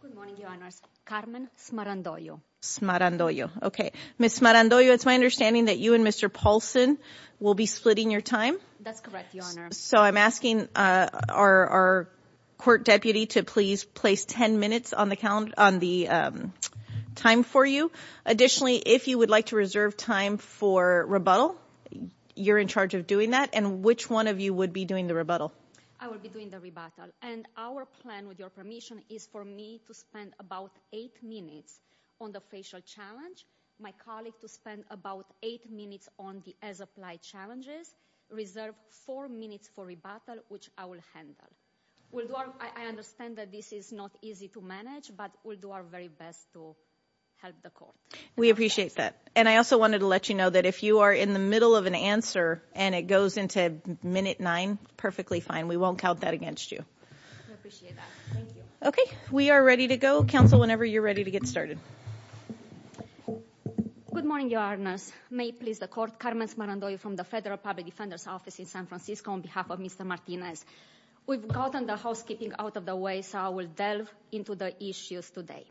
Good morning, your honors. Carmen Smarandoyo. Smarandoyo. Okay. Ms. Smarandoyo, it's my understanding that you and Mr. Paulson will be splitting your time. That's correct, your honor. So I'm asking our court deputy to please place 10 minutes on the time for you. Additionally, if you would like to reserve time for rebuttal, you're in charge of doing that. And which one of you would be doing the rebuttal? I will be doing the rebuttal. And our plan, with your permission, is for me to spend about eight minutes on the facial challenge, my colleague to spend about eight minutes on the as-applied challenges, reserve four minutes for rebuttal, which I will handle. I understand that this is not easy to manage, but we'll do our very best to help the court. We appreciate that. And I also wanted to let you know that if you are in the middle of an answer and it goes into minute nine, perfectly fine. We won't count that against you. We appreciate that. Thank you. Okay. We are ready to go. Counsel, whenever you're ready to get started. Good morning, your honors. May it please the court, Carmen Smarandoyo from the Federal Public Defender's Office in San Francisco, on behalf of Mr. Martinez. We've gotten the housekeeping out of the way, so I will delve into the issues today.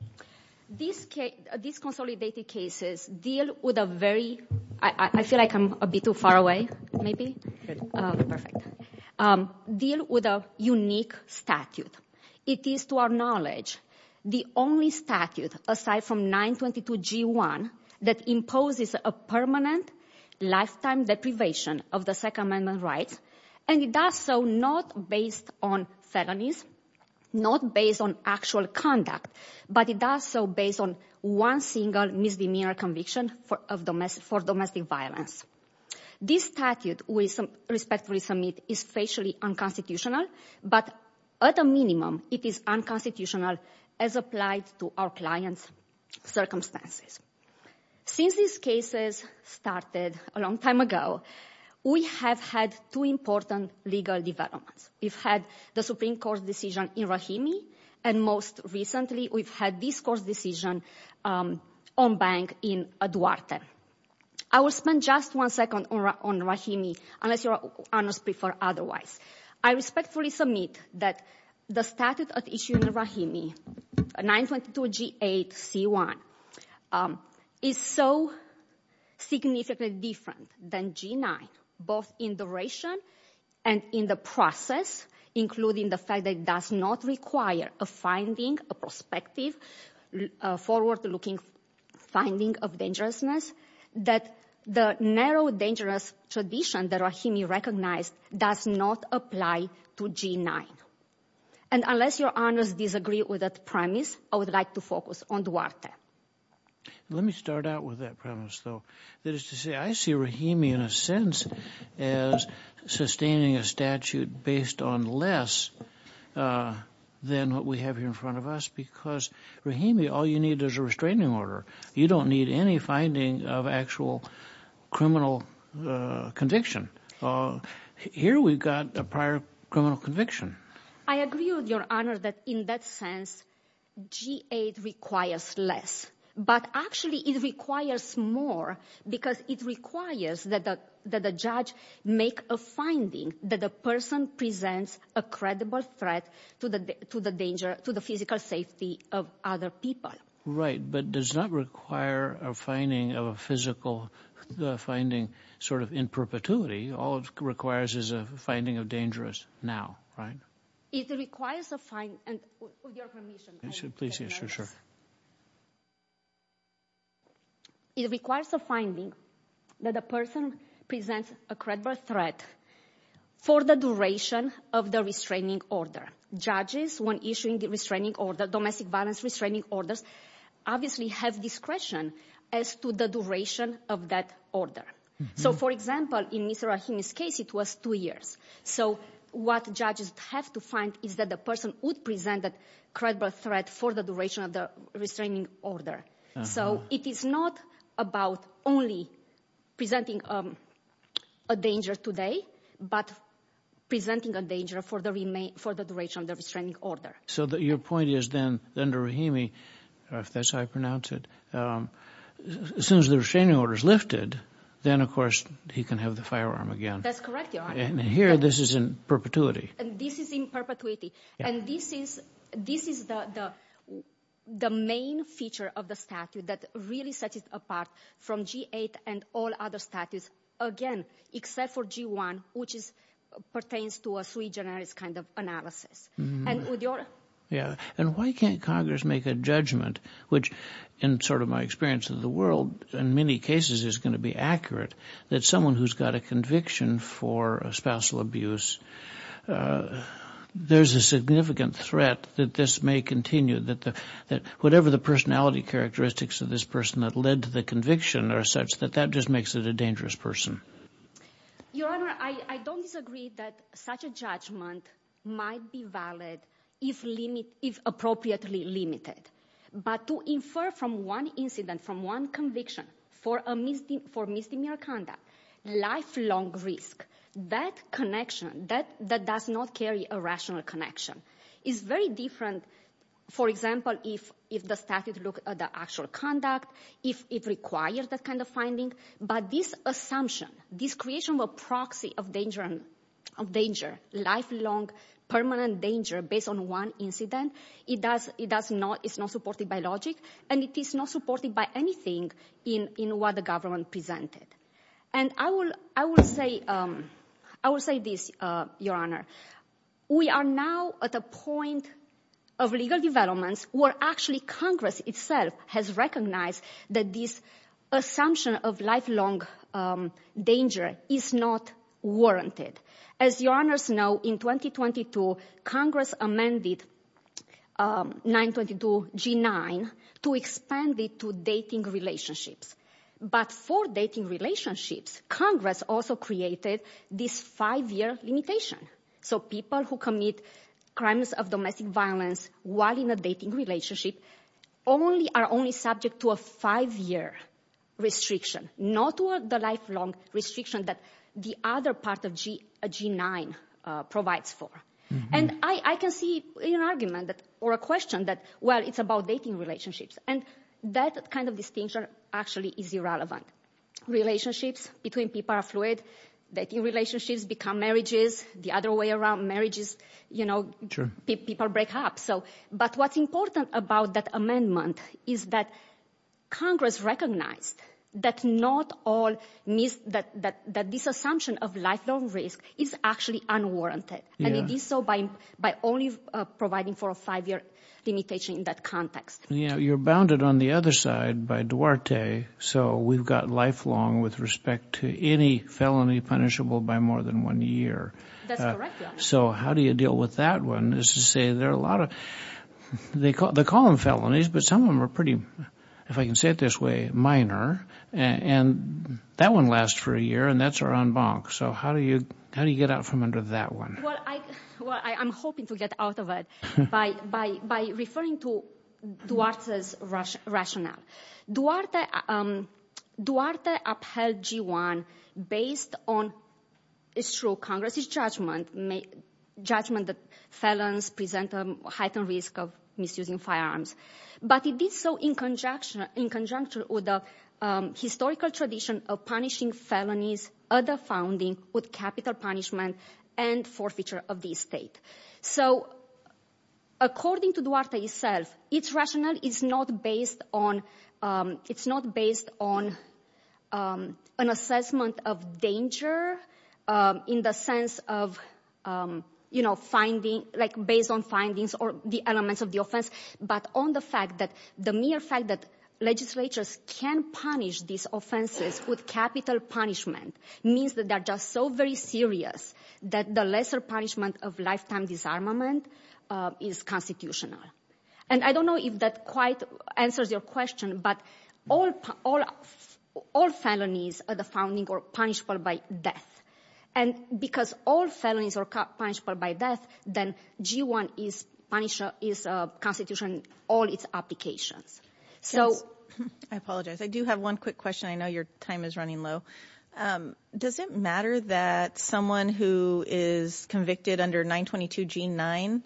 These consolidated cases deal with a very, I feel like I'm a bit too far away, maybe. Perfect. Deal with a unique statute. It is, to our knowledge, the only statute, aside from 922G1, that imposes a permanent lifetime deprivation of the Second Amendment rights. And it does so not based on felonies, not based on actual conduct, but it does so based on one single misdemeanor conviction for domestic violence. This statute we respectfully submit is facially unconstitutional, but at a minimum, it is unconstitutional as applied to our client's circumstances. Since these cases started a long time ago, we have had two important legal developments. We've had the Supreme Court decision in Rahimi, and most recently, we've had this court's decision on bank in Duarte. I will spend just one second on Rahimi, unless your honors prefer otherwise. I respectfully submit that the statute at issue in Rahimi, 922G8C1, is so significantly different than G9, both in duration and in the process, including the fact that it does not require a finding, a prospective, forward-looking finding of dangerousness, that the narrow dangerous tradition that Rahimi recognized does not apply to G9. And unless your honors disagree with that premise, I would like to focus on Duarte. Let me start out with that premise, though. That is to say, I see Rahimi in a sense as sustaining a statute based on less than what we have here in front of us, because Rahimi, all you need is a restraining order. You don't need any finding of actual criminal conviction. Here we've got a prior criminal conviction. I agree with your honor that in that sense, G8 requires less, but actually it requires more, because it requires that the judge make a finding that the person presents a credible threat to the physical safety of other people. Right, but does not require a finding of a physical finding sort of in perpetuity. All it requires is a finding of dangerous now, right? It requires a finding, and with your permission. Please, yeah, sure, sure. It requires a finding that a person presents a credible threat for the duration of the restraining order. Judges, when issuing the restraining order, domestic violence restraining orders, obviously have discretion as to the duration of that order. So for example, in Mr. Rahimi's case, it was two years. So what judges have to find is that the person would present a credible threat for the duration of the restraining order. So it is not about only presenting a danger today, but presenting a danger for the duration of the restraining order. So your point is then, under Rahimi, if that's how I pronounce it, as soon as the restraining order is lifted, then of course he can have the firearm again. That's correct, Your Honor. And here this is in perpetuity. This is in perpetuity. And this is the main feature of the statute that really sets it apart from G-8 and all other statutes, again, except for G-1, which pertains to a sui generis kind of analysis. And why can't Congress make a judgment, which in sort of my experience of the world, in many cases is going to be accurate, that someone who's got a conviction for a spousal abuse, there's a significant threat that this may continue, that whatever the personality characteristics of this person that led to the conviction are such that that just makes it a dangerous person. Your Honor, I don't disagree that such a judgment might be valid if appropriately limited. But to infer from one incident, from one conviction, for misdemeanor conduct, lifelong risk, that connection, that does not carry a rational connection, is very different, for example, if the statute look at the actual conduct, if it requires that kind of finding. But this assumption, this creation of a proxy of danger, lifelong permanent danger based on one incident, it does not, it's not supported by logic, and it is not supported by anything in what the government presented. And I will say this, Your Honor, we are now at a point of legal developments where actually Congress itself has recognized that this assumption of lifelong danger is not warranted. As Your Honors know, in 2022, Congress amended 922G9 to expand it to dating relationships. But for dating relationships, Congress also created this five-year limitation. So people who commit crimes of domestic violence while in a dating relationship are only subject to a five-year restriction, not the lifelong restriction that the other part of G9 provides for. And I can see an argument or a question that, well, it's about dating relationships. And that kind of distinction actually is irrelevant. Relationships between people are fluid, dating relationships become marriages, the other way around, marriages, people break up. But what's important about that amendment is that Congress recognized that not all means that this assumption of lifelong risk is actually unwarranted. And it is so by only providing for a five-year limitation in that context. You're bounded on the other side by Duarte. So we've got lifelong with respect to any felony punishable by more than one year. That's correct, Your Honor. So how do you deal with that one is to say there are a lot of, they call them felonies, but some of them are pretty, if I can say it this way, minor. And that one lasts for a year and that's our en banc. So how do you get out from under that one? Well, I'm hoping to get out of it by referring to Duarte's rationale. Duarte upheld G1 based on Congress's judgment that felons present a heightened risk of misusing firearms. But he did so in conjunction with the historical tradition of punishing felonies, other founding with capital punishment and forfeiture of the estate. So according to it's not based on an assessment of danger in the sense of, you know, finding like based on findings or the elements of the offense, but on the fact that the mere fact that legislatures can punish these offenses with capital punishment means that they're just so very serious that the lesser punishment of lifetime disarmament is constitutional. And I don't know if that quite answers your question, but all felonies are the founding or punishable by death. And because all felonies are punishable by death, then G1 is constitution, all its applications. I apologize. I do have one quick question. I know your time is running low. Does it matter that someone who is convicted under 922 G9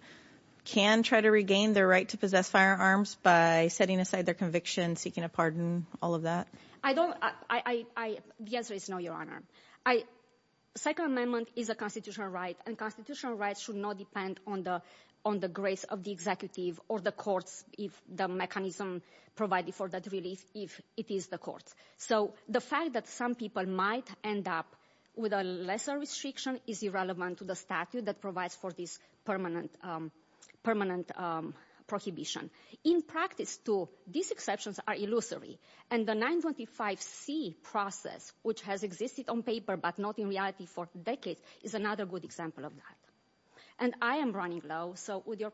can try to regain their right to firearms by setting aside their conviction, seeking a pardon, all of that? The answer is no, Your Honor. Second Amendment is a constitutional right and constitutional rights should not depend on the grace of the executive or the courts if the mechanism provided for that relief, if it is the courts. So the fact that some people might end up with a lesser restriction is irrelevant to the statute that provides for this permanent prohibition. In practice, too, these exceptions are illusory. And the 925 C process, which has existed on paper but not in reality for decades, is another good example of that. And I am running low, so with your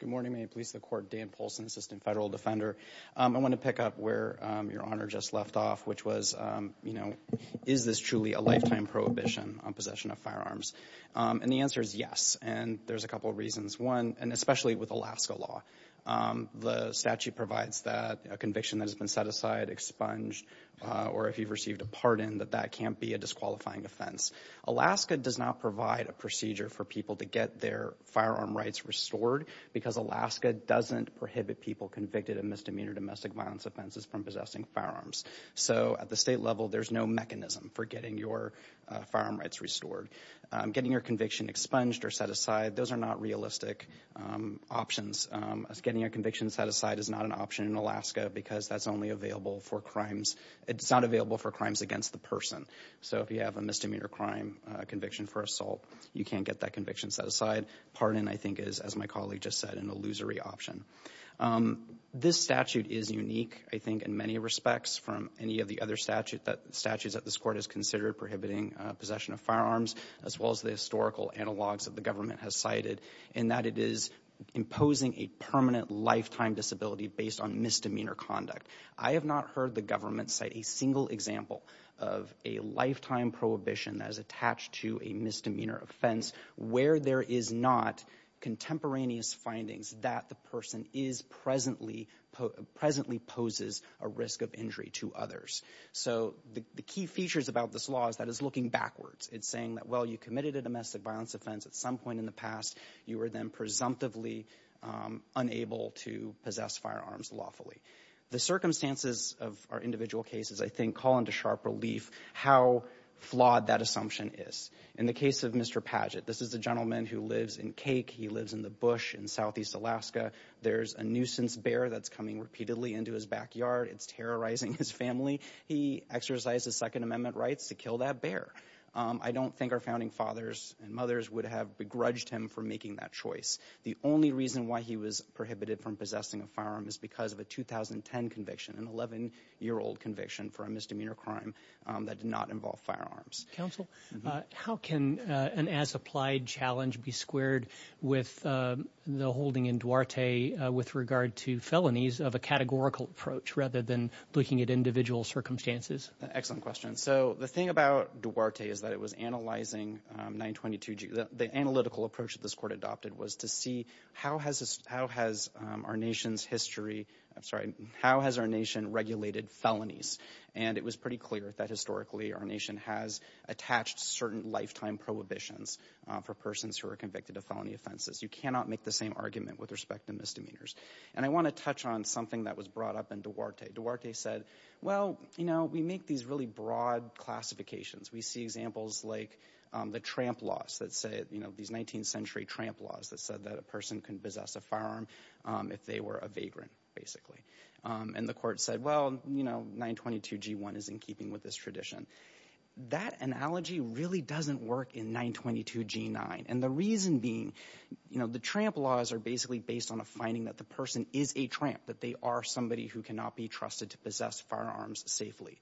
Good morning, Ma'am. Police of the Court Dan Polson, Assistant Federal Defender. I want to pick up where Your Honor just left off, which was, you know, is this truly a lifetime prohibition on possession of firearms? And the answer is yes. And there's a couple of reasons. One, and especially with Alaska law, the statute provides that a conviction that has been set aside, expunged, or if you've received a pardon, that that can't be a disqualifying offense. Alaska does not provide a procedure for people to get their firearm rights restored because Alaska doesn't prohibit people convicted of misdemeanor domestic violence offenses from possessing firearms. So at the state level, there's no mechanism for getting your firearm rights restored. Getting your conviction expunged or set aside, those are not realistic options. Getting a conviction set aside is not an option in Alaska because that's only available for crimes, it's not available for crimes against the person. So if you have a misdemeanor crime conviction for assault, you can't get that conviction set aside. Pardon, I think, is, as my colleague just said, an illusory option. This statute is unique, I think, in many respects from any of the other statutes that this Court has considered prohibiting possession of firearms, as well as the historical analogs that the government has cited, in that it is imposing a permanent lifetime disability based on misdemeanor conduct. I have not heard the government cite a single example of a lifetime prohibition that is attached to a misdemeanor offense where there is not contemporaneous findings that the person is presently, presently poses a risk of injury to others. So the key features about this law is that it's looking backwards. It's saying that, well, you committed a domestic violence offense at some point in the past, you were then presumptively unable to possess firearms lawfully. The circumstances of our individual cases, I think, call into sharp relief how flawed that assumption is. In the case of Mr. Padgett, this is a gentleman who lives in Cake. He lives in the bush in southeast Alaska. There's a nuisance bear that's coming repeatedly into his backyard. It's terrorizing his family. He exercised his Second Amendment rights to kill that bear. I don't think our founding fathers and mothers would have begrudged him for making that choice. The only reason why he was prohibited from possessing a firearm is because of a 2010 conviction, an 11-year-old conviction for a misdemeanor crime that did not involve firearms. Counsel, how can an as-applied challenge be squared with the holding in Duarte with regard to felonies of a categorical approach rather than looking at individual circumstances? Excellent question. So the thing about Duarte is that it was analyzing 922G. The analytical approach that this court adopted was to see how has our nation's history, I'm sorry, how has our nation regulated felonies? And it was pretty clear that historically our nation has attached certain lifetime prohibitions for persons who are convicted of felony offenses. You cannot make the same argument with respect to misdemeanors. And I want to touch on something that was brought up in Duarte. Duarte said, well, you know, we make these really broad classifications. We see examples like the tramp laws that say, you know, these 19th century tramp laws that said that a person can possess a firearm if they were a vagrant, basically. And the court said, well, you know, 922G1 is in keeping with this tradition. That analogy really doesn't work in 922G9. And the reason being, you know, the tramp laws are basically based on a finding that the person is a tramp, that they are somebody who cannot be trusted to possess firearms safely.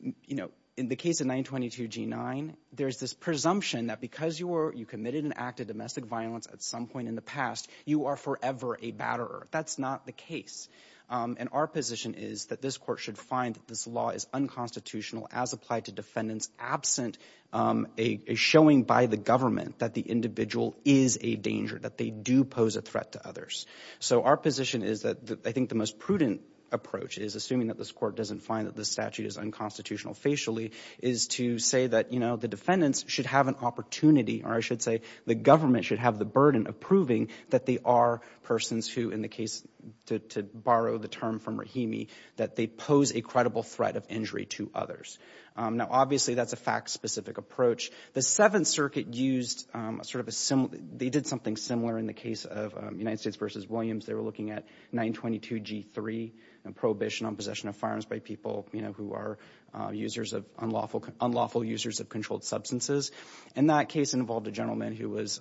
You know, in the case of 922G9, there's this presumption that because you committed an act of domestic violence at some point in the past, you are forever a batterer. That's not the case. And our position is that this court should find that this law is unconstitutional as applied to defendants absent a showing by the government that the individual is a danger, that they do pose a threat to others. So our position is that I think the most prudent approach is, assuming that this court doesn't find that the statute is unconstitutional facially, is to say that, you know, the defendants should have an opportunity, or I should say, the government should have the burden of proving that they are persons who, in the case, to borrow the term from Rahimi, that they pose a credible threat of injury to others. Now, obviously, that's a fact-specific approach. The Seventh Circuit used sort of a similar, they did something similar in the case of United States versus Williams. They were looking at 922G3, a prohibition on possession of firearms by people, you know, who are users of unlawful, unlawful users of controlled substances. And that case involved a gentleman who was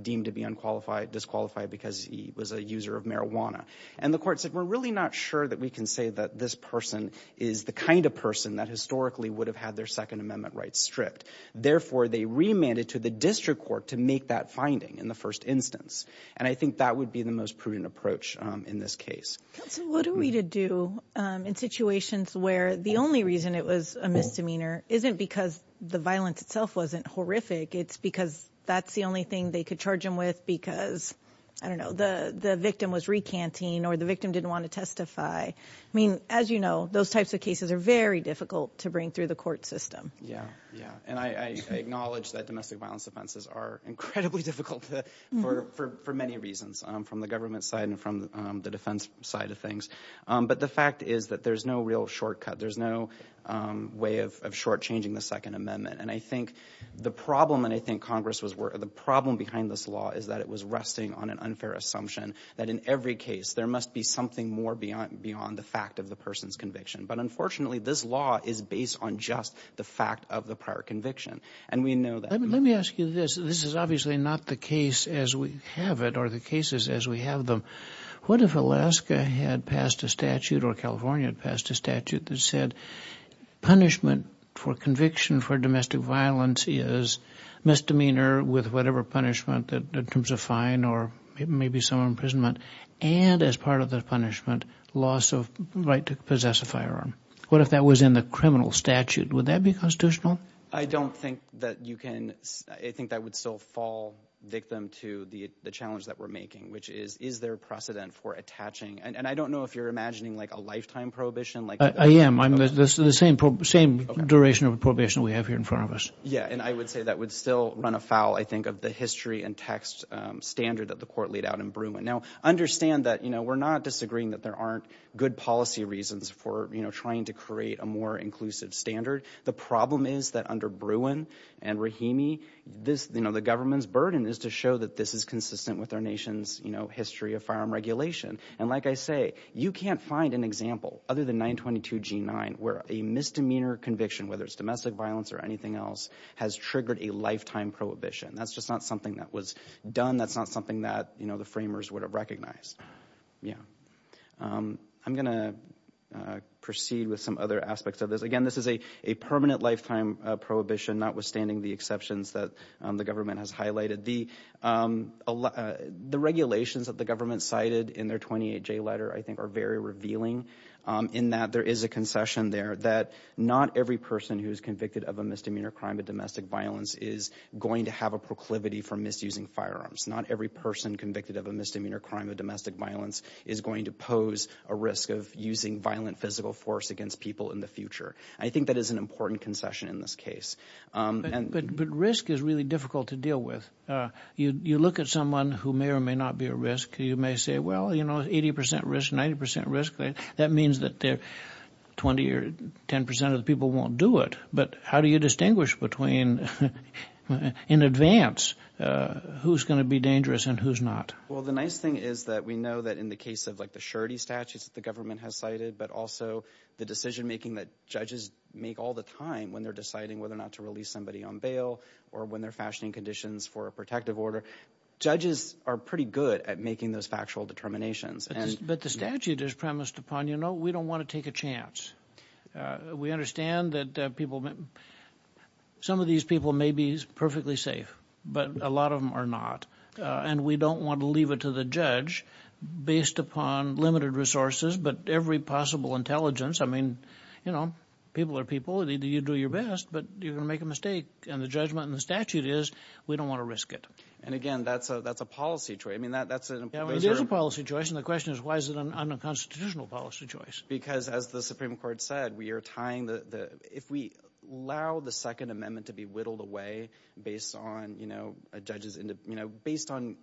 deemed to be unqualified, disqualified because he was a user of marijuana. And the court said, we're really not sure that we can say that this person is the kind of person that historically would have had their Second Amendment rights stripped. Therefore, they remanded to the district court to make that finding in the first instance. And I think that would be the most prudent approach in this case. Counsel, what are we to do in situations where the only reason it was a misdemeanor isn't because the violence itself wasn't horrific. It's because that's the only thing they could charge them with because, I don't know, the victim was recanting or the victim didn't want to testify. I mean, as you know, those types of cases are very difficult to bring through the court system. Yeah, yeah. And I acknowledge that domestic violence offenses are incredibly difficult for many reasons, from the government side and from the defense side of things. But the fact is that there's no real shortcut. There's no way of shortchanging the Second Amendment. And I think the problem, and I think Congress was, the problem behind this law is that it was resting on an unfair assumption that in every case there must be something more beyond the fact of the person's conviction. But unfortunately, this law is based on just the fact of the prior conviction. And we know that. Let me ask you this. This is obviously not the case as we have it or the cases as we have them. What if Alaska had passed a statute or California passed a statute that said punishment for conviction for domestic violence is misdemeanor with whatever punishment in terms of fine or maybe some imprisonment, and as part of the punishment, loss of right to possess a firearm. What if that was in the criminal statute? Would that be constitutional? I don't think that you can. I think that would still fall victim to the challenge that we're making, which is, is there precedent for attaching? And I don't know if you're imagining like a lifetime prohibition. I am. I'm the same duration of probation we have here in front of us. Yeah. And I would say that would still run afoul, I think, of the history and text standard that the court laid out in Bruin. Now, understand that we're not disagreeing that there aren't good policy reasons for trying to create a more inclusive standard. The problem is that under Bruin and Rahimi, this, you know, the government's burden is to show that this is consistent with our nation's, you know, history of firearm regulation. And like I say, you can't find an example other than 922 G9 where a misdemeanor conviction, whether it's domestic violence or anything else, has triggered a lifetime prohibition. That's just not something that was done. That's not something that, you know, the framers would have recognized. Yeah. I'm going to proceed with some other aspects of this. Again, this is a permanent lifetime prohibition, notwithstanding the exceptions that the government has highlighted. The regulations that the government cited in their 28J letter, I think, are very revealing in that there is a concession there that not every person who is convicted of a misdemeanor crime of domestic violence is going to have a proclivity for misusing firearms. Not every person convicted of a misdemeanor crime of domestic violence is going to pose a risk of using violent physical force against people in the future. I think that is an important concession in this case. But risk is really difficult to deal with. You look at someone who may or may not be at risk, you may say, well, you know, 80 percent risk, 90 percent risk. That means that 20 or 10 percent of the people won't do it. But how do you distinguish between, in advance, who's going to be dangerous and who's not? Well, the nice thing is that we know that in the case of like the surety statutes that the government has cited, but also the decision making that judges make all the time when they're deciding whether or not to release somebody on bail or when they're fashioning conditions for a protective order. Judges are pretty good at making those factual determinations. But the statute is premised upon, you know, we don't want to take a chance. We understand that people, some of these people may be perfectly safe, but a lot of them are not. And we don't want to leave it to the judge based upon limited resources. But every possible intelligence, I mean, you know, people are people, you do your best, but you're going to make a mistake. And the judgment in the statute is we don't want to risk it. And again, that's a that's a policy choice. I mean, that's a policy choice. And the question is, why is it an unconstitutional policy choice? Because, as the Supreme Court said, we are tying the if we allow the Second Amendment to be whittled away based on, you know, judges, you know, based on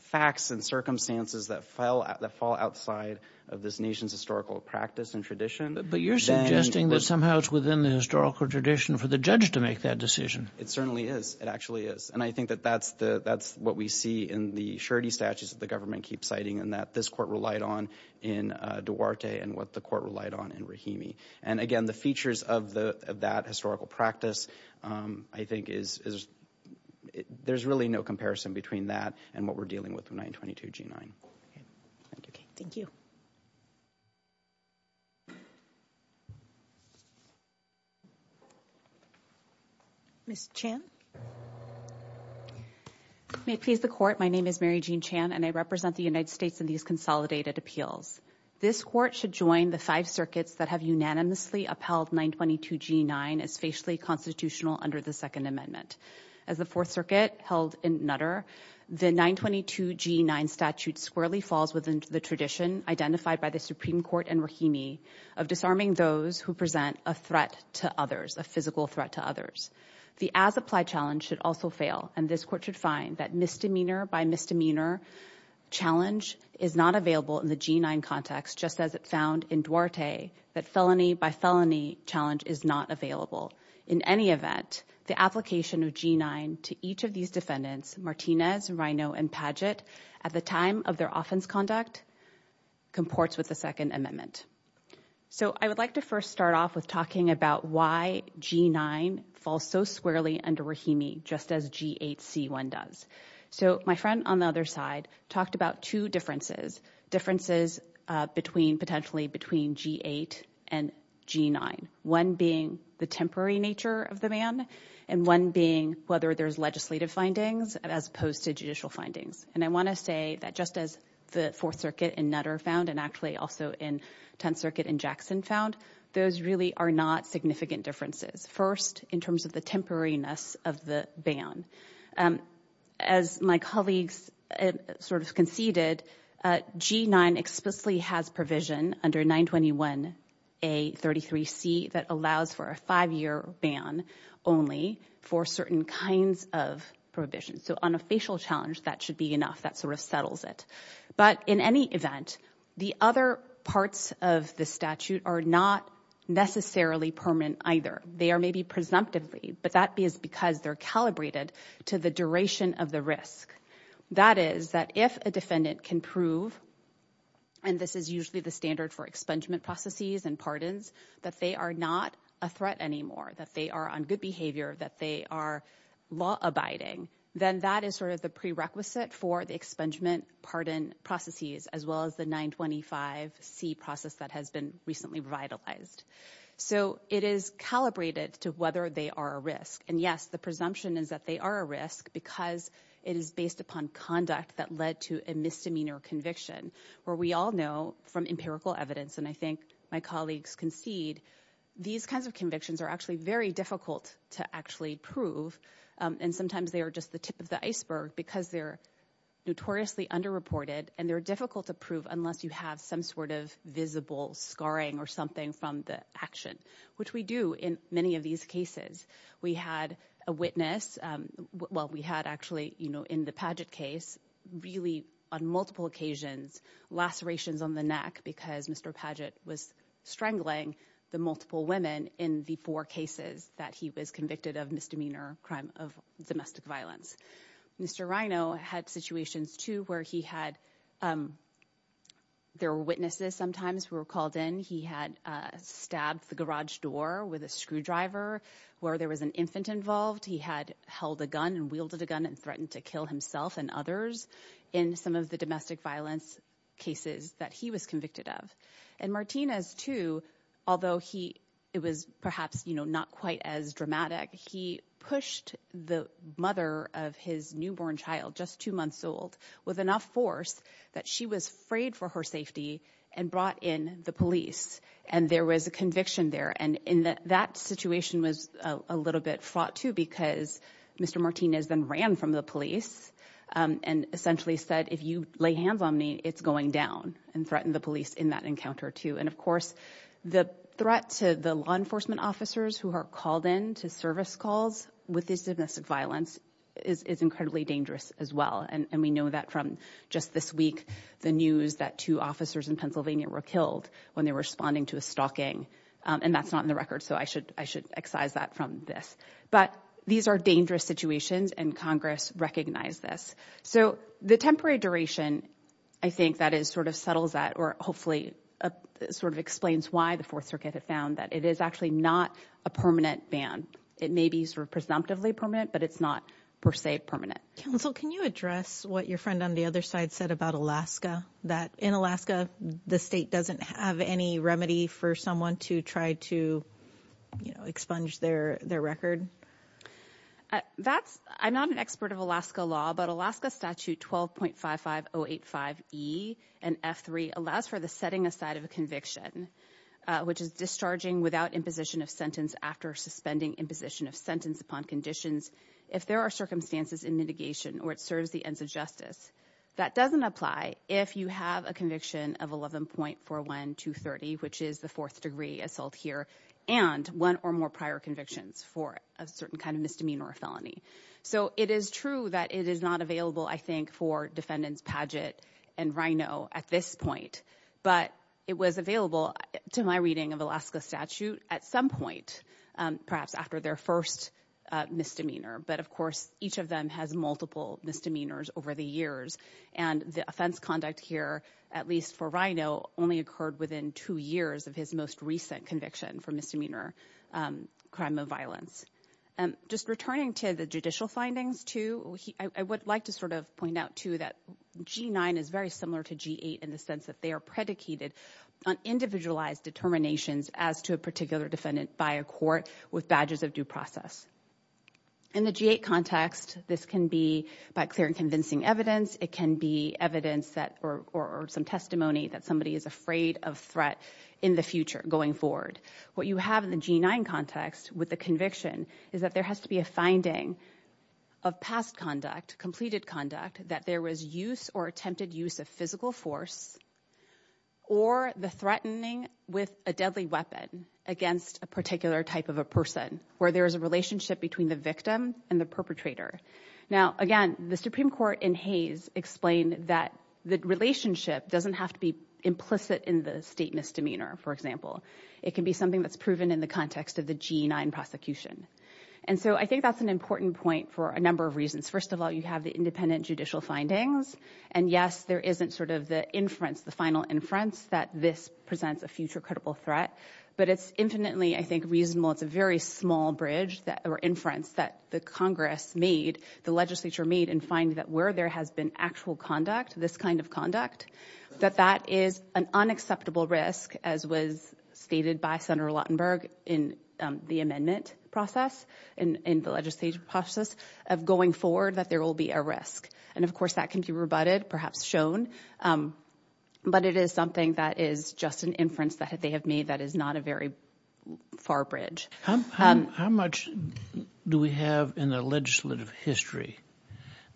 facts and circumstances that fall outside of this nation's historical practice and tradition. But you're suggesting that somehow it's within the historical tradition for the judge to make that decision. It certainly is. It actually is. And I think that that's the that's what we see in the surety statutes that the government keeps citing and that this court relied on in Duarte and what the court relied on in And again, the features of the of that historical practice, I think, is there's really no comparison between that and what we're dealing with in 922 G9. Thank you. Ms. Chan. May it please the court. My name is Mary Jean Chan, and I represent the United States in these consolidated appeals. This court should join the five circuits that have unanimously upheld 922 G9 as facially constitutional under the Second Amendment. As the Fourth Circuit held in Nutter, the 922 G9 statute squarely falls within the tradition identified by the Supreme Court and Rahimi of disarming those who present a threat to others, a physical threat to others. The as applied challenge should also fail. And this court should find that misdemeanor by misdemeanor challenge is not available in the G9 context, just as it found in Duarte that felony by felony challenge is not available. In any event, the application of G9 to each of these defendants, Martinez, Rino, and Padgett at the time of their offense conduct comports with the Second Amendment. So I would like to first start off with talking about why G9 falls so squarely under Rahimi, just as G8C1 does. So my friend on the other side talked about two differences, differences between potentially between G8 and G9, one being the temporary nature of the ban and one being whether there's legislative findings as opposed to judicial findings. And I want to say that just as the Fourth Circuit in Nutter found and actually also in Tenth Circuit in Jackson found, those really are not significant differences. First, in terms of the temporariness of the ban. As my colleagues sort of conceded, G9 explicitly has provision under 921A33C that allows for a five-year ban only for certain kinds of prohibitions. So on a facial challenge, that should be enough. That sort of settles it. But in any event, the other parts of the statute are not necessarily permanent either. They are maybe presumptively, but that is because they're calibrated to the duration of the risk. That is that if a defendant can prove, and this is usually the standard for expungement processes and pardons, that they are not a threat anymore, that they are on good behavior, that they are law-abiding, then that is sort of the prerequisite for the expungement pardon processes as well as the 925C process that has been recently revitalized. So it is calibrated to whether they are a risk. And yes, the presumption is that they are a risk because it is based upon conduct that led to a misdemeanor conviction, where we all know from empirical evidence, and I think my colleagues concede, these kinds of convictions are actually very difficult to actually prove. And sometimes they are just the tip of the iceberg because they're notoriously underreported and they're difficult to prove unless you have some sort of visible scarring or something from the action, which we do in many of these cases. We had a witness, well, we had actually, you know, in the Padgett case, really on multiple occasions, lacerations on the neck because Mr. Padgett was strangling the multiple women in the four cases that he was convicted of misdemeanor crime of domestic violence. Mr. Rino had situations too where he had, there were witnesses sometimes who were called in. He had stabbed the garage door with a screwdriver where there was an infant involved. He had held a gun and wielded a gun and threatened to kill himself and others in some of the domestic violence cases that he was convicted of. And Martinez too, although he, it was perhaps, you know, not quite as dramatic. He pushed the mother of his newborn child, just two months old, with enough force that she was frayed for her safety and brought in the police. And there was a conviction there. And in that situation was a little bit fraught too, because Mr. Martinez then ran from the police and essentially said, if you lay hands on me, it's going down and threatened the police in that encounter too. And of course, the threat to the law enforcement officers who are called in to service calls with this domestic violence is incredibly dangerous as well. And we know that from just this week, the news that two officers in Pennsylvania were killed when they were responding to a stalking. And that's not in the record. So I should excise that from this. But these are dangerous situations and Congress recognized this. So the temporary duration, I think that is sort of settles that or hopefully sort of explains why the Fourth Circuit had found that it is actually not a permanent ban. It may be sort of presumptively permanent, but it's not per se permanent. Counsel, can you address what your friend on the other side said about Alaska, that in Alaska, the state doesn't have any remedy for someone to try to expunge their record? I'm not an expert of Alaska law, but Alaska statute 12.55085E and F3 allows for the setting aside of a conviction, which is discharging without imposition of sentence after suspending imposition of sentence upon conditions. If there are circumstances in mitigation or it serves the ends of justice, that doesn't apply if you have a conviction of 11.41230, which is the fourth degree assault here and one or more prior convictions for a certain kind of misdemeanor or felony. So it is true that it is not available, I think, for defendants Paget and Rino at this point, but it was available to my reading of Alaska statute at some point, perhaps after their first misdemeanor. But of course, each of them has multiple misdemeanors over the years. And the offense conduct here, at least for Rino, only occurred within two years of his most recent conviction for misdemeanor crime of violence. Just returning to the judicial findings, too, I would like to sort of point out, too, that G9 is very similar to G8 in the sense that they are predicated on individualized determinations as to a particular defendant by a court with badges of due process. In the G8 context, this can be by clear and convincing evidence. It can be evidence or some testimony that somebody is afraid of threat in the future going forward. What you have in the G9 context with the conviction is that there has to be a finding of past conduct, completed conduct, that there was use or attempted use of physical force or the threatening with a deadly weapon against a particular type of a person where there is a relationship between the victim and the perpetrator. Now, again, the Supreme Court in Hayes explained that the relationship doesn't have to be implicit in the state misdemeanor, for example. It can be something that's proven in the context of the G9 prosecution. And so I think that's an important point for a number of reasons. First of all, you have the independent judicial findings. And yes, there isn't sort of the inference, the final inference that this presents a future critical threat. But it's infinitely, I think, reasonable. It's a very small bridge or inference that the Congress made, the legislature made and find that where there has been actual conduct, this kind of conduct, that that is an unacceptable risk, as was stated by Senator Lautenberg in the amendment process, in the legislative process of going forward that there will be a risk. And, of course, that can be rebutted, perhaps shown. But it is something that is just an inference that they have made that is not a very far bridge. How much do we have in the legislative history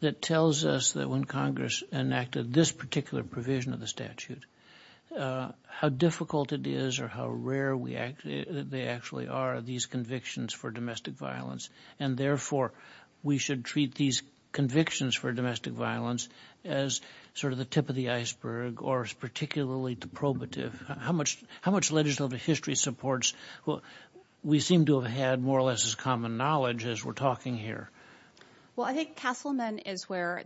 that tells us that when Congress enacted this particular provision of the statute, how difficult it is or how rare they actually are, these convictions for domestic violence? And therefore, we should treat these convictions for domestic violence as sort of the tip of the iceberg or as particularly deprobative? How much legislative history supports what we seem to have had more or less as common knowledge as we're talking here? Well, I think Castleman is where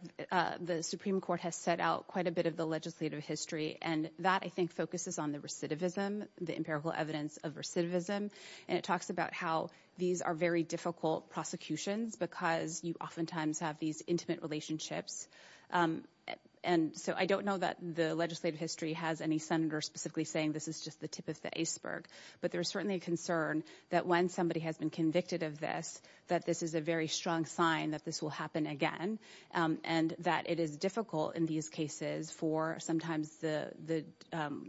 the Supreme Court has set out quite a bit of the legislative history. And that, I think, focuses on the recidivism, the empirical evidence of recidivism. And it talks about how these are very difficult prosecutions because you oftentimes have these intimate relationships. And so I don't know that the legislative history has any senator specifically saying this is just the tip of the iceberg. But there is certainly a concern that when somebody has been convicted of this, that this is a very strong sign that this will happen again and that it is difficult in these cases for sometimes the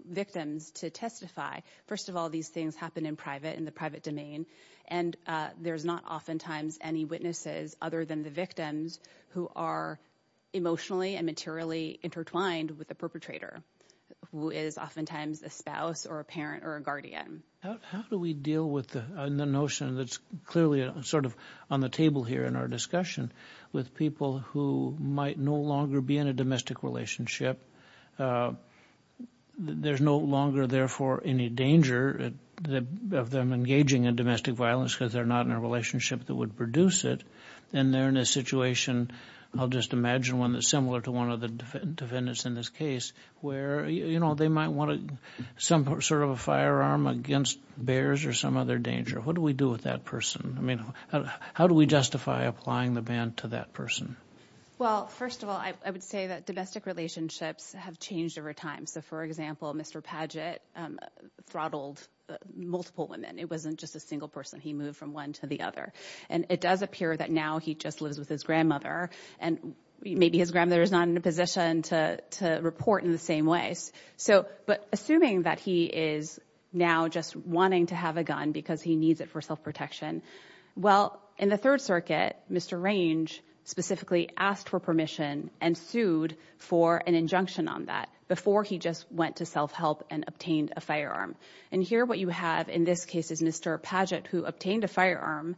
victims to testify. First of all, these things happen in private, in the private domain. And there's not oftentimes any witnesses other than the victims who are emotionally and materially intertwined with the perpetrator, who is oftentimes a spouse or a parent or a guardian. How do we deal with the notion that's clearly sort of on the table here in our discussion with people who might no longer be in a domestic relationship? There's no longer, therefore, any danger of them engaging in domestic violence because they're not in a relationship that would produce it. And they're in a situation, I'll just imagine one that's similar to one of the defendants in this case, where, you know, they might want some sort of a firearm against bears or some other danger. What do we do with that person? I mean, how do we justify applying the ban to that person? Well, first of all, I would say that domestic relationships have changed over time. So, for example, Mr. Padgett throttled multiple women. It wasn't just a single person. He moved from one to the other. And it does appear that now he just lives with his grandmother and maybe his grandmother is not in a position to report in the same way. So, but assuming that he is now just wanting to have a gun because he needs it for self asked for permission and sued for an injunction on that before he just went to self-help and obtained a firearm. And here what you have in this case is Mr. Padgett, who obtained a firearm.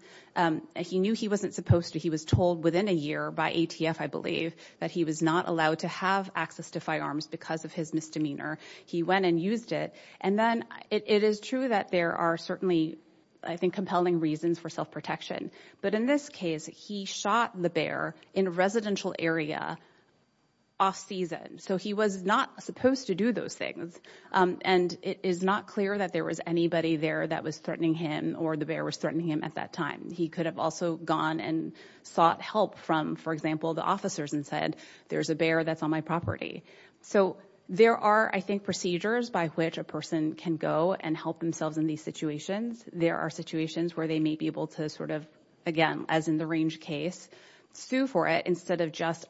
He knew he wasn't supposed to. He was told within a year by ATF, I believe, that he was not allowed to have access to firearms because of his misdemeanor. He went and used it. And then it is true that there are certainly, I think, compelling reasons for self-protection. But in this case, he shot the bear in a residential area off season. So he was not supposed to do those things. And it is not clear that there was anybody there that was threatening him or the bear was threatening him at that time. He could have also gone and sought help from, for example, the officers and said, there's a bear that's on my property. So there are, I think, procedures by which a person can go and help themselves in these situations. There are situations where they may be able to sort of, again, as in the range case, sue for it instead of just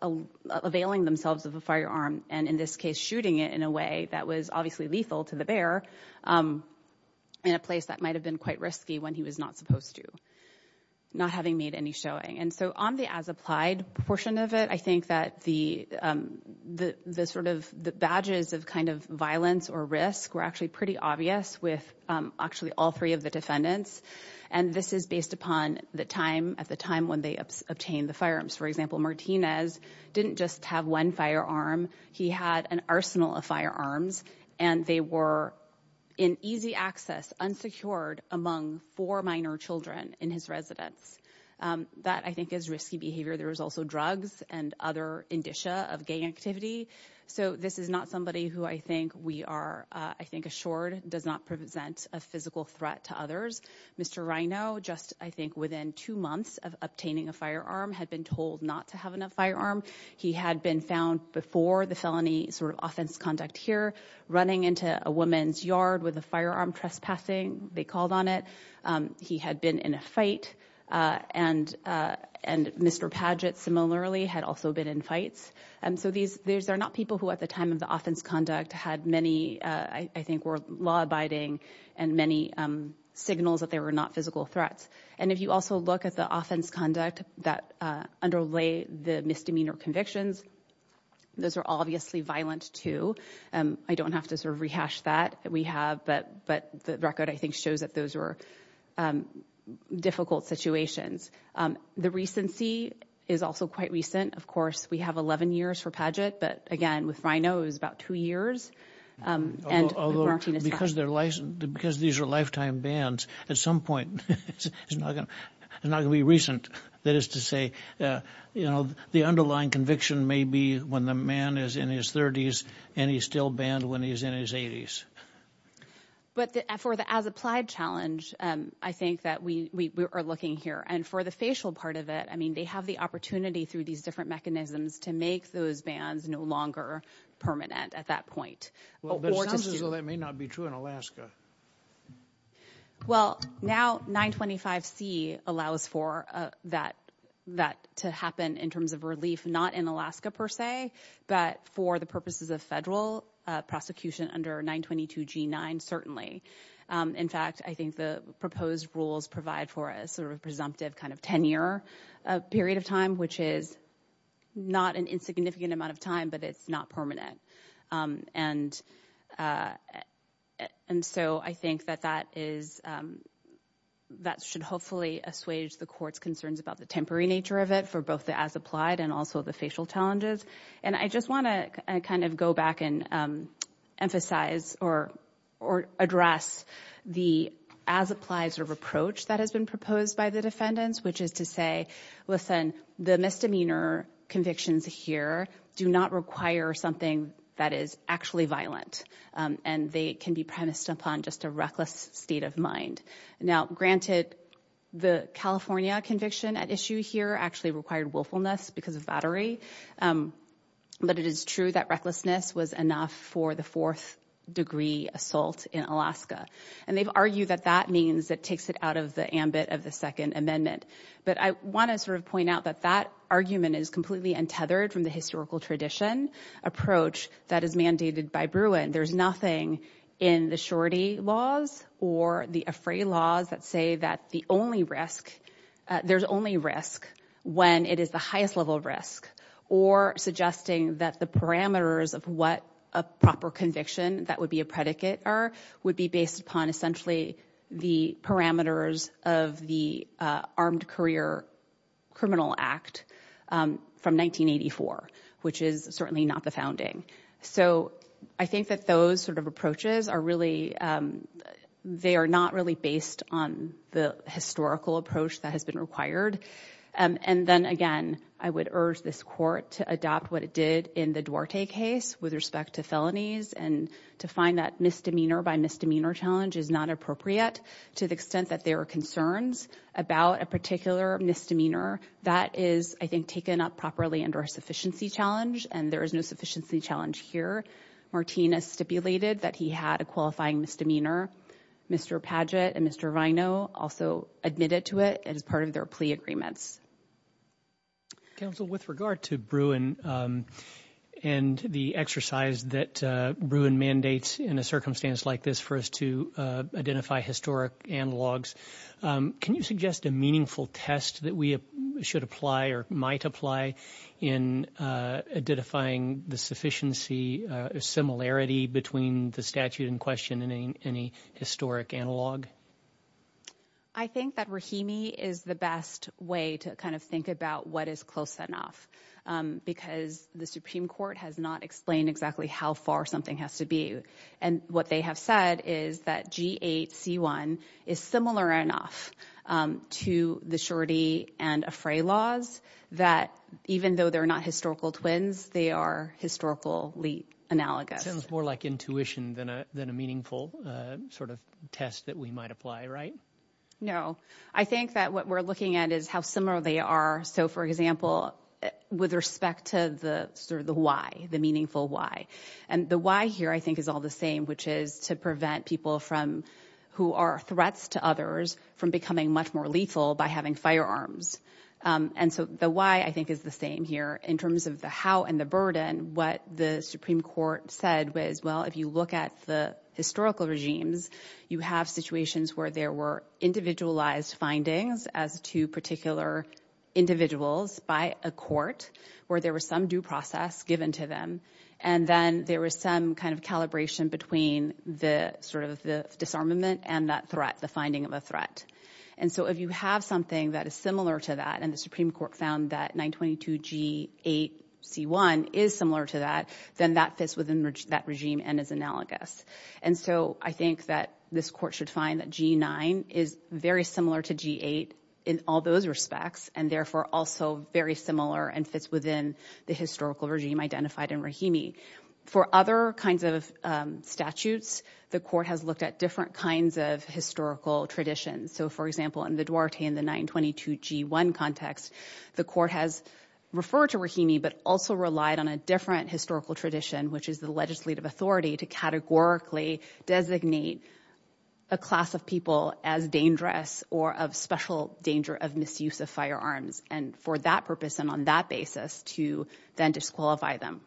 availing themselves of a firearm and, in this case, shooting it in a way that was obviously lethal to the bear in a place that might have been quite risky when he was not supposed to, not having made any showing. And so on the as-applied portion of it, I think that the badges of kind of violence or risk were actually pretty obvious with actually all three of the defendants. And this is based upon the time at the time when they obtained the firearms. For example, Martinez didn't just have one firearm. He had an arsenal of firearms and they were in easy access, unsecured among four minor children in his residence. That, I think, is risky behavior. There was also drugs and other indicia of gang activity. So this is not somebody who I think we are, I think, assured does not present a physical threat to others. Mr. Rino, just, I think, within two months of obtaining a firearm, had been told not to have enough firearm. He had been found before the felony sort of offense conduct here, running into a woman's yard with a firearm trespassing, they called on it. He had been in a fight. And Mr. Padgett, similarly, had also been in fights. And so these are not people who at the time of the offense conduct had many, I think, were law abiding and many signals that they were not physical threats. And if you also look at the offense conduct that underlay the misdemeanor convictions, those are obviously violent too. I don't have to sort of rehash that we have, but the record, I think, shows that those were difficult situations. The recency is also quite recent. Of course, we have 11 years for Padgett. But again, with Rino, it was about two years. Although, because these are lifetime bans, at some point, it's not going to be recent. That is to say, you know, the underlying conviction may be when the man is in his 30s and he's still banned when he's in his 80s. But for the as applied challenge, I think that we are looking here. And for the facial part of it, I mean, they have the opportunity through these different mechanisms to make those bans no longer permanent at that point. Well, that may not be true in Alaska. Well, now 925 C allows for that to happen in terms of relief, not in Alaska, per se, but for the purposes of federal prosecution under 922 G9, certainly. In fact, I think the proposed rules provide for a sort of presumptive kind of tenure period of time, which is not an insignificant amount of time, but it's not permanent. And so I think that that should hopefully assuage the court's concerns about the temporary nature of it for both the as applied and also the facial challenges. And I just want to kind of go back and emphasize or address the as applies or reproach that has been proposed by the defendants, which is to say, listen, the misdemeanor convictions here do not require something that is actually violent and they can be premised upon just a reckless state of mind. Now, granted, the California conviction at issue here actually required willfulness because of battery. But it is true that recklessness was enough for the fourth degree assault in Alaska. And they've argued that that means that takes it out of the ambit of the Second Amendment. But I want to sort of point out that that argument is completely untethered from the historical tradition approach that is mandated by Bruin. There's nothing in the shorty laws or the afraid laws that say that the only risk there's risk when it is the highest level of risk or suggesting that the parameters of what a proper conviction that would be a predicate are would be based upon essentially the parameters of the Armed Career Criminal Act from 1984, which is certainly not the founding. So I think that those sort of approaches are really they are not really based on the historical approach that has been required. And then again, I would urge this court to adopt what it did in the Duarte case with respect to felonies and to find that misdemeanor by misdemeanor challenge is not appropriate to the extent that there are concerns about a particular misdemeanor that is, I think, taken up properly under a sufficiency challenge. And there is no sufficiency challenge here. Martinez stipulated that he had a qualifying misdemeanor. Mr. Paget and Mr. Vino also admitted to it as part of their plea agreements. Counsel, with regard to Bruin and the exercise that Bruin mandates in a circumstance like this for us to identify historic analogs, can you suggest a meaningful test that we should apply or might apply in identifying the sufficiency or similarity between the statute in question and any historic analog? I think that Rahimi is the best way to kind of think about what is close enough, because the Supreme Court has not explained exactly how far something has to be. And what they have said is that G8C1 is similar enough to the Shorty and Afray laws that even though they're not historical twins, they are historically analogous. Sounds more like intuition than a meaningful sort of test that we might apply, right? No. I think that what we're looking at is how similar they are. So, for example, with respect to the sort of the why, the meaningful why, and the why here, I think, is all the same, which is to prevent people from who are threats to others from becoming much more lethal by having firearms. And so the why, I think, is the same here in terms of the how and the burden, what the Supreme Court said was, well, if you look at the historical regimes, you have situations where there were individualized findings as to particular individuals by a court where there was some due process given to them. And then there was some kind of calibration between the sort of the disarmament and that threat, the finding of a threat. And so if you have something that is similar to that, and the Supreme Court found that 922G8C1 is similar to that, then that fits within that regime and is analogous. And so I think that this court should find that G9 is very similar to G8 in all those respects, and therefore also very similar and fits within the historical regime identified in Rahimi. For other kinds of statutes, the court has looked at different kinds of historical traditions. So, for example, in the Duarte and the 922G1 context, the court has referred to Rahimi, but also relied on a different historical tradition, which is the legislative authority to categorically designate a class of people as dangerous or of special danger of misuse of firearms. And for that purpose and on that basis to then disqualify them.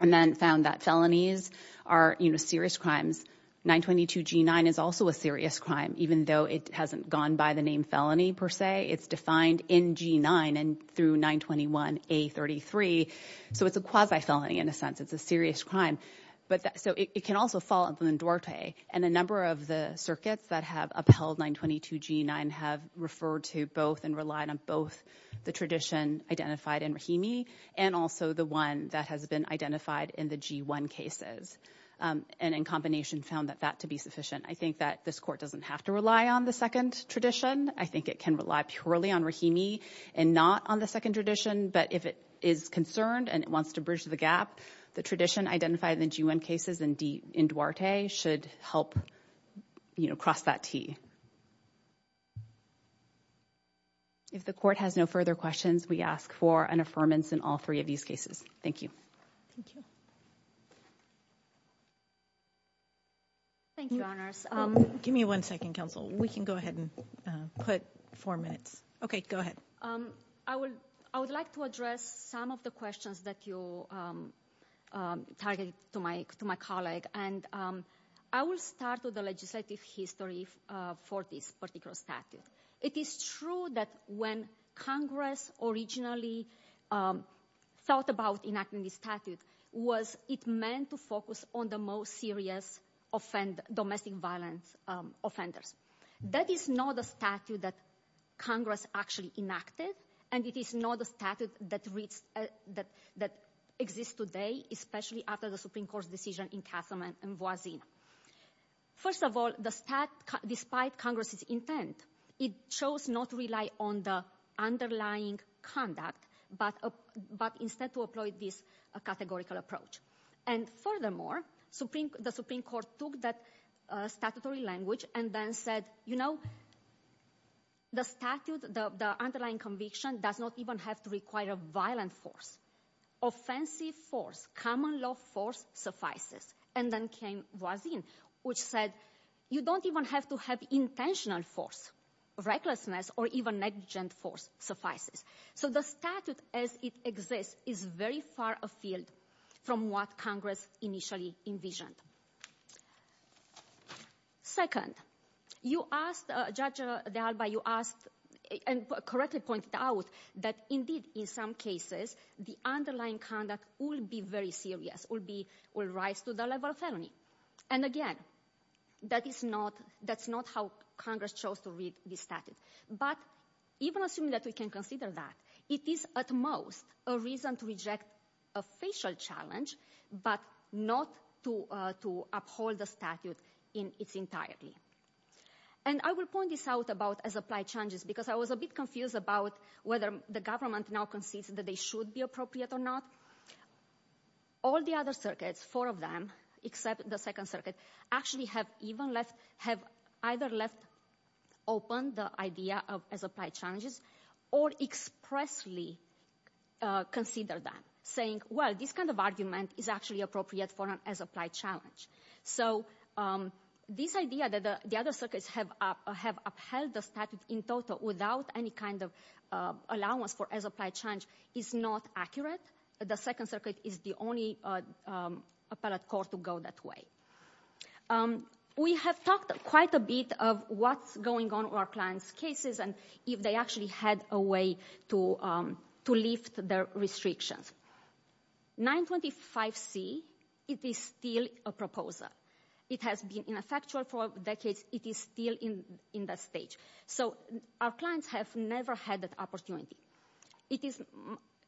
And then found that felonies are serious crimes. 922G9 is also a serious crime, even though it hasn't gone by the name felony per se. It's defined in G9 and through 921A33. So it's a quasi felony in a sense. It's a serious crime. But so it can also fall in Duarte. And a number of the circuits that have upheld 922G9 have referred to both and relied on both the tradition identified in Rahimi and also the one that has been identified in the G1 cases. And in combination, found that that to be sufficient. I think that this court doesn't have to rely on the second tradition. I think it can rely purely on Rahimi and not on the second tradition. But if it is concerned and it wants to bridge the gap, the tradition identified in the G1 cases and in Duarte should help cross that T. If the court has no further questions, we ask for an affirmance in all three of these cases. Thank you. Thank you. Thank you, Your Honors. Give me one second, counsel. We can go ahead and put four minutes. Okay, go ahead. I would like to address some of the questions that you targeted to my colleague. And I will start with the legislative history for this particular statute. It is true that when Congress originally thought about enacting the statute, was it meant to focus on the most serious domestic violence offenders. That is not a statute that Congress actually enacted. And it is not a statute that exists today, especially after the Supreme Court's decision in Castleman and Voisin. First of all, the statute, despite Congress's intent, it chose not to rely on the underlying conduct, but instead to employ this categorical approach. And furthermore, the Supreme Court took that statutory language and then said, you know, the statute, the underlying conviction does not even have to require a violent force. Offensive force, common law force suffices. And then came Voisin, which said, you don't even have to have intentional force. Recklessness or even negligent force suffices. So the statute as it exists is very far afield from what Congress initially envisioned. Second, you asked, Judge de Alba, you asked and correctly pointed out that indeed in some cases, the underlying conduct will be very serious, will rise to the level of felony. And again, that is not, that's not how Congress chose to read the statute. But even assuming that we can consider that, it is at most a reason to reject a facial challenge, but not to uphold the statute in its entirety. And I will point this out about as applied changes, because I was a bit confused about whether the government now concedes that they should be appropriate or not. All the other circuits, four of them, except the Second Circuit, actually have even left, have either left open the idea of as applied challenges or expressly consider that, saying, well, this kind of argument is actually appropriate for an as applied challenge. So this idea that the other circuits have upheld the statute in total without any kind of allowance for as applied challenge is not accurate. The Second Circuit is the only appellate court to go that way. We have talked quite a bit of what's going on with our clients' cases and if they actually had a way to lift their restrictions. 925C, it is still a proposal. It has been ineffectual for decades. It is still in that stage. So our clients have never had that opportunity.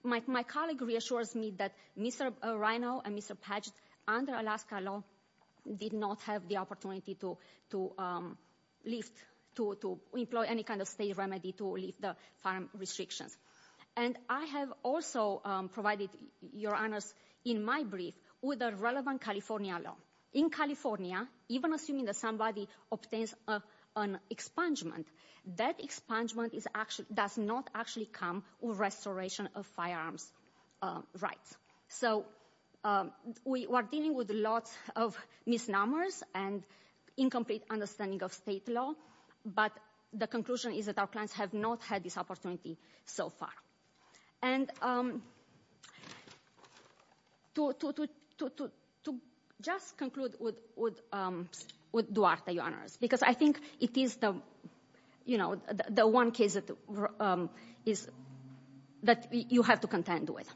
My colleague reassures me that Mr. Reino and Mr. Paget under Alaska law did not have the opportunity to lift, to employ any kind of state remedy to lift the farm restrictions. And I have also provided your honors in my brief with a relevant California law. In California, even assuming that somebody obtains an expungement, that expungement does not actually come with restoration of firearms rights. So we are dealing with lots of misnomers and incomplete understanding of state law. But the conclusion is that our clients have not had this opportunity so far. And to just conclude with Duarte, your honors, because I think it is the one case that you have to contend with.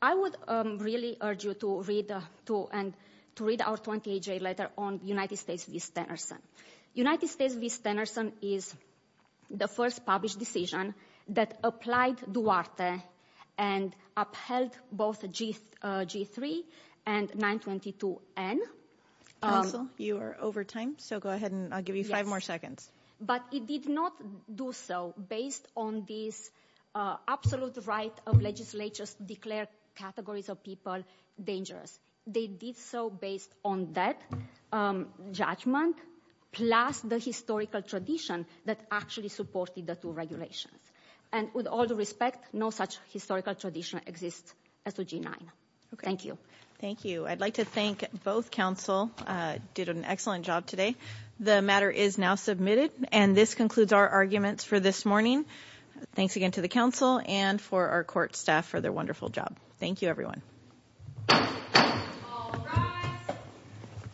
I would really urge you to read our 28-day letter on United States v. Stenerson. United States v. Stenerson is the first published decision that applied Duarte and upheld both G3 and 922N. Counsel, you are over time. So go ahead and I'll give you five more seconds. But it did not do so based on this absolute right of legislatures to declare categories of people dangerous. They did so based on that judgment plus the historical tradition that actually supported the two regulations. And with all due respect, no such historical tradition exists as the G9. Thank you. Thank you. I'd like to thank both counsel. Did an excellent job today. The matter is now submitted. And this concludes our arguments for this morning. Thanks again to the counsel and for our court staff for their wonderful job. Thank you, everyone.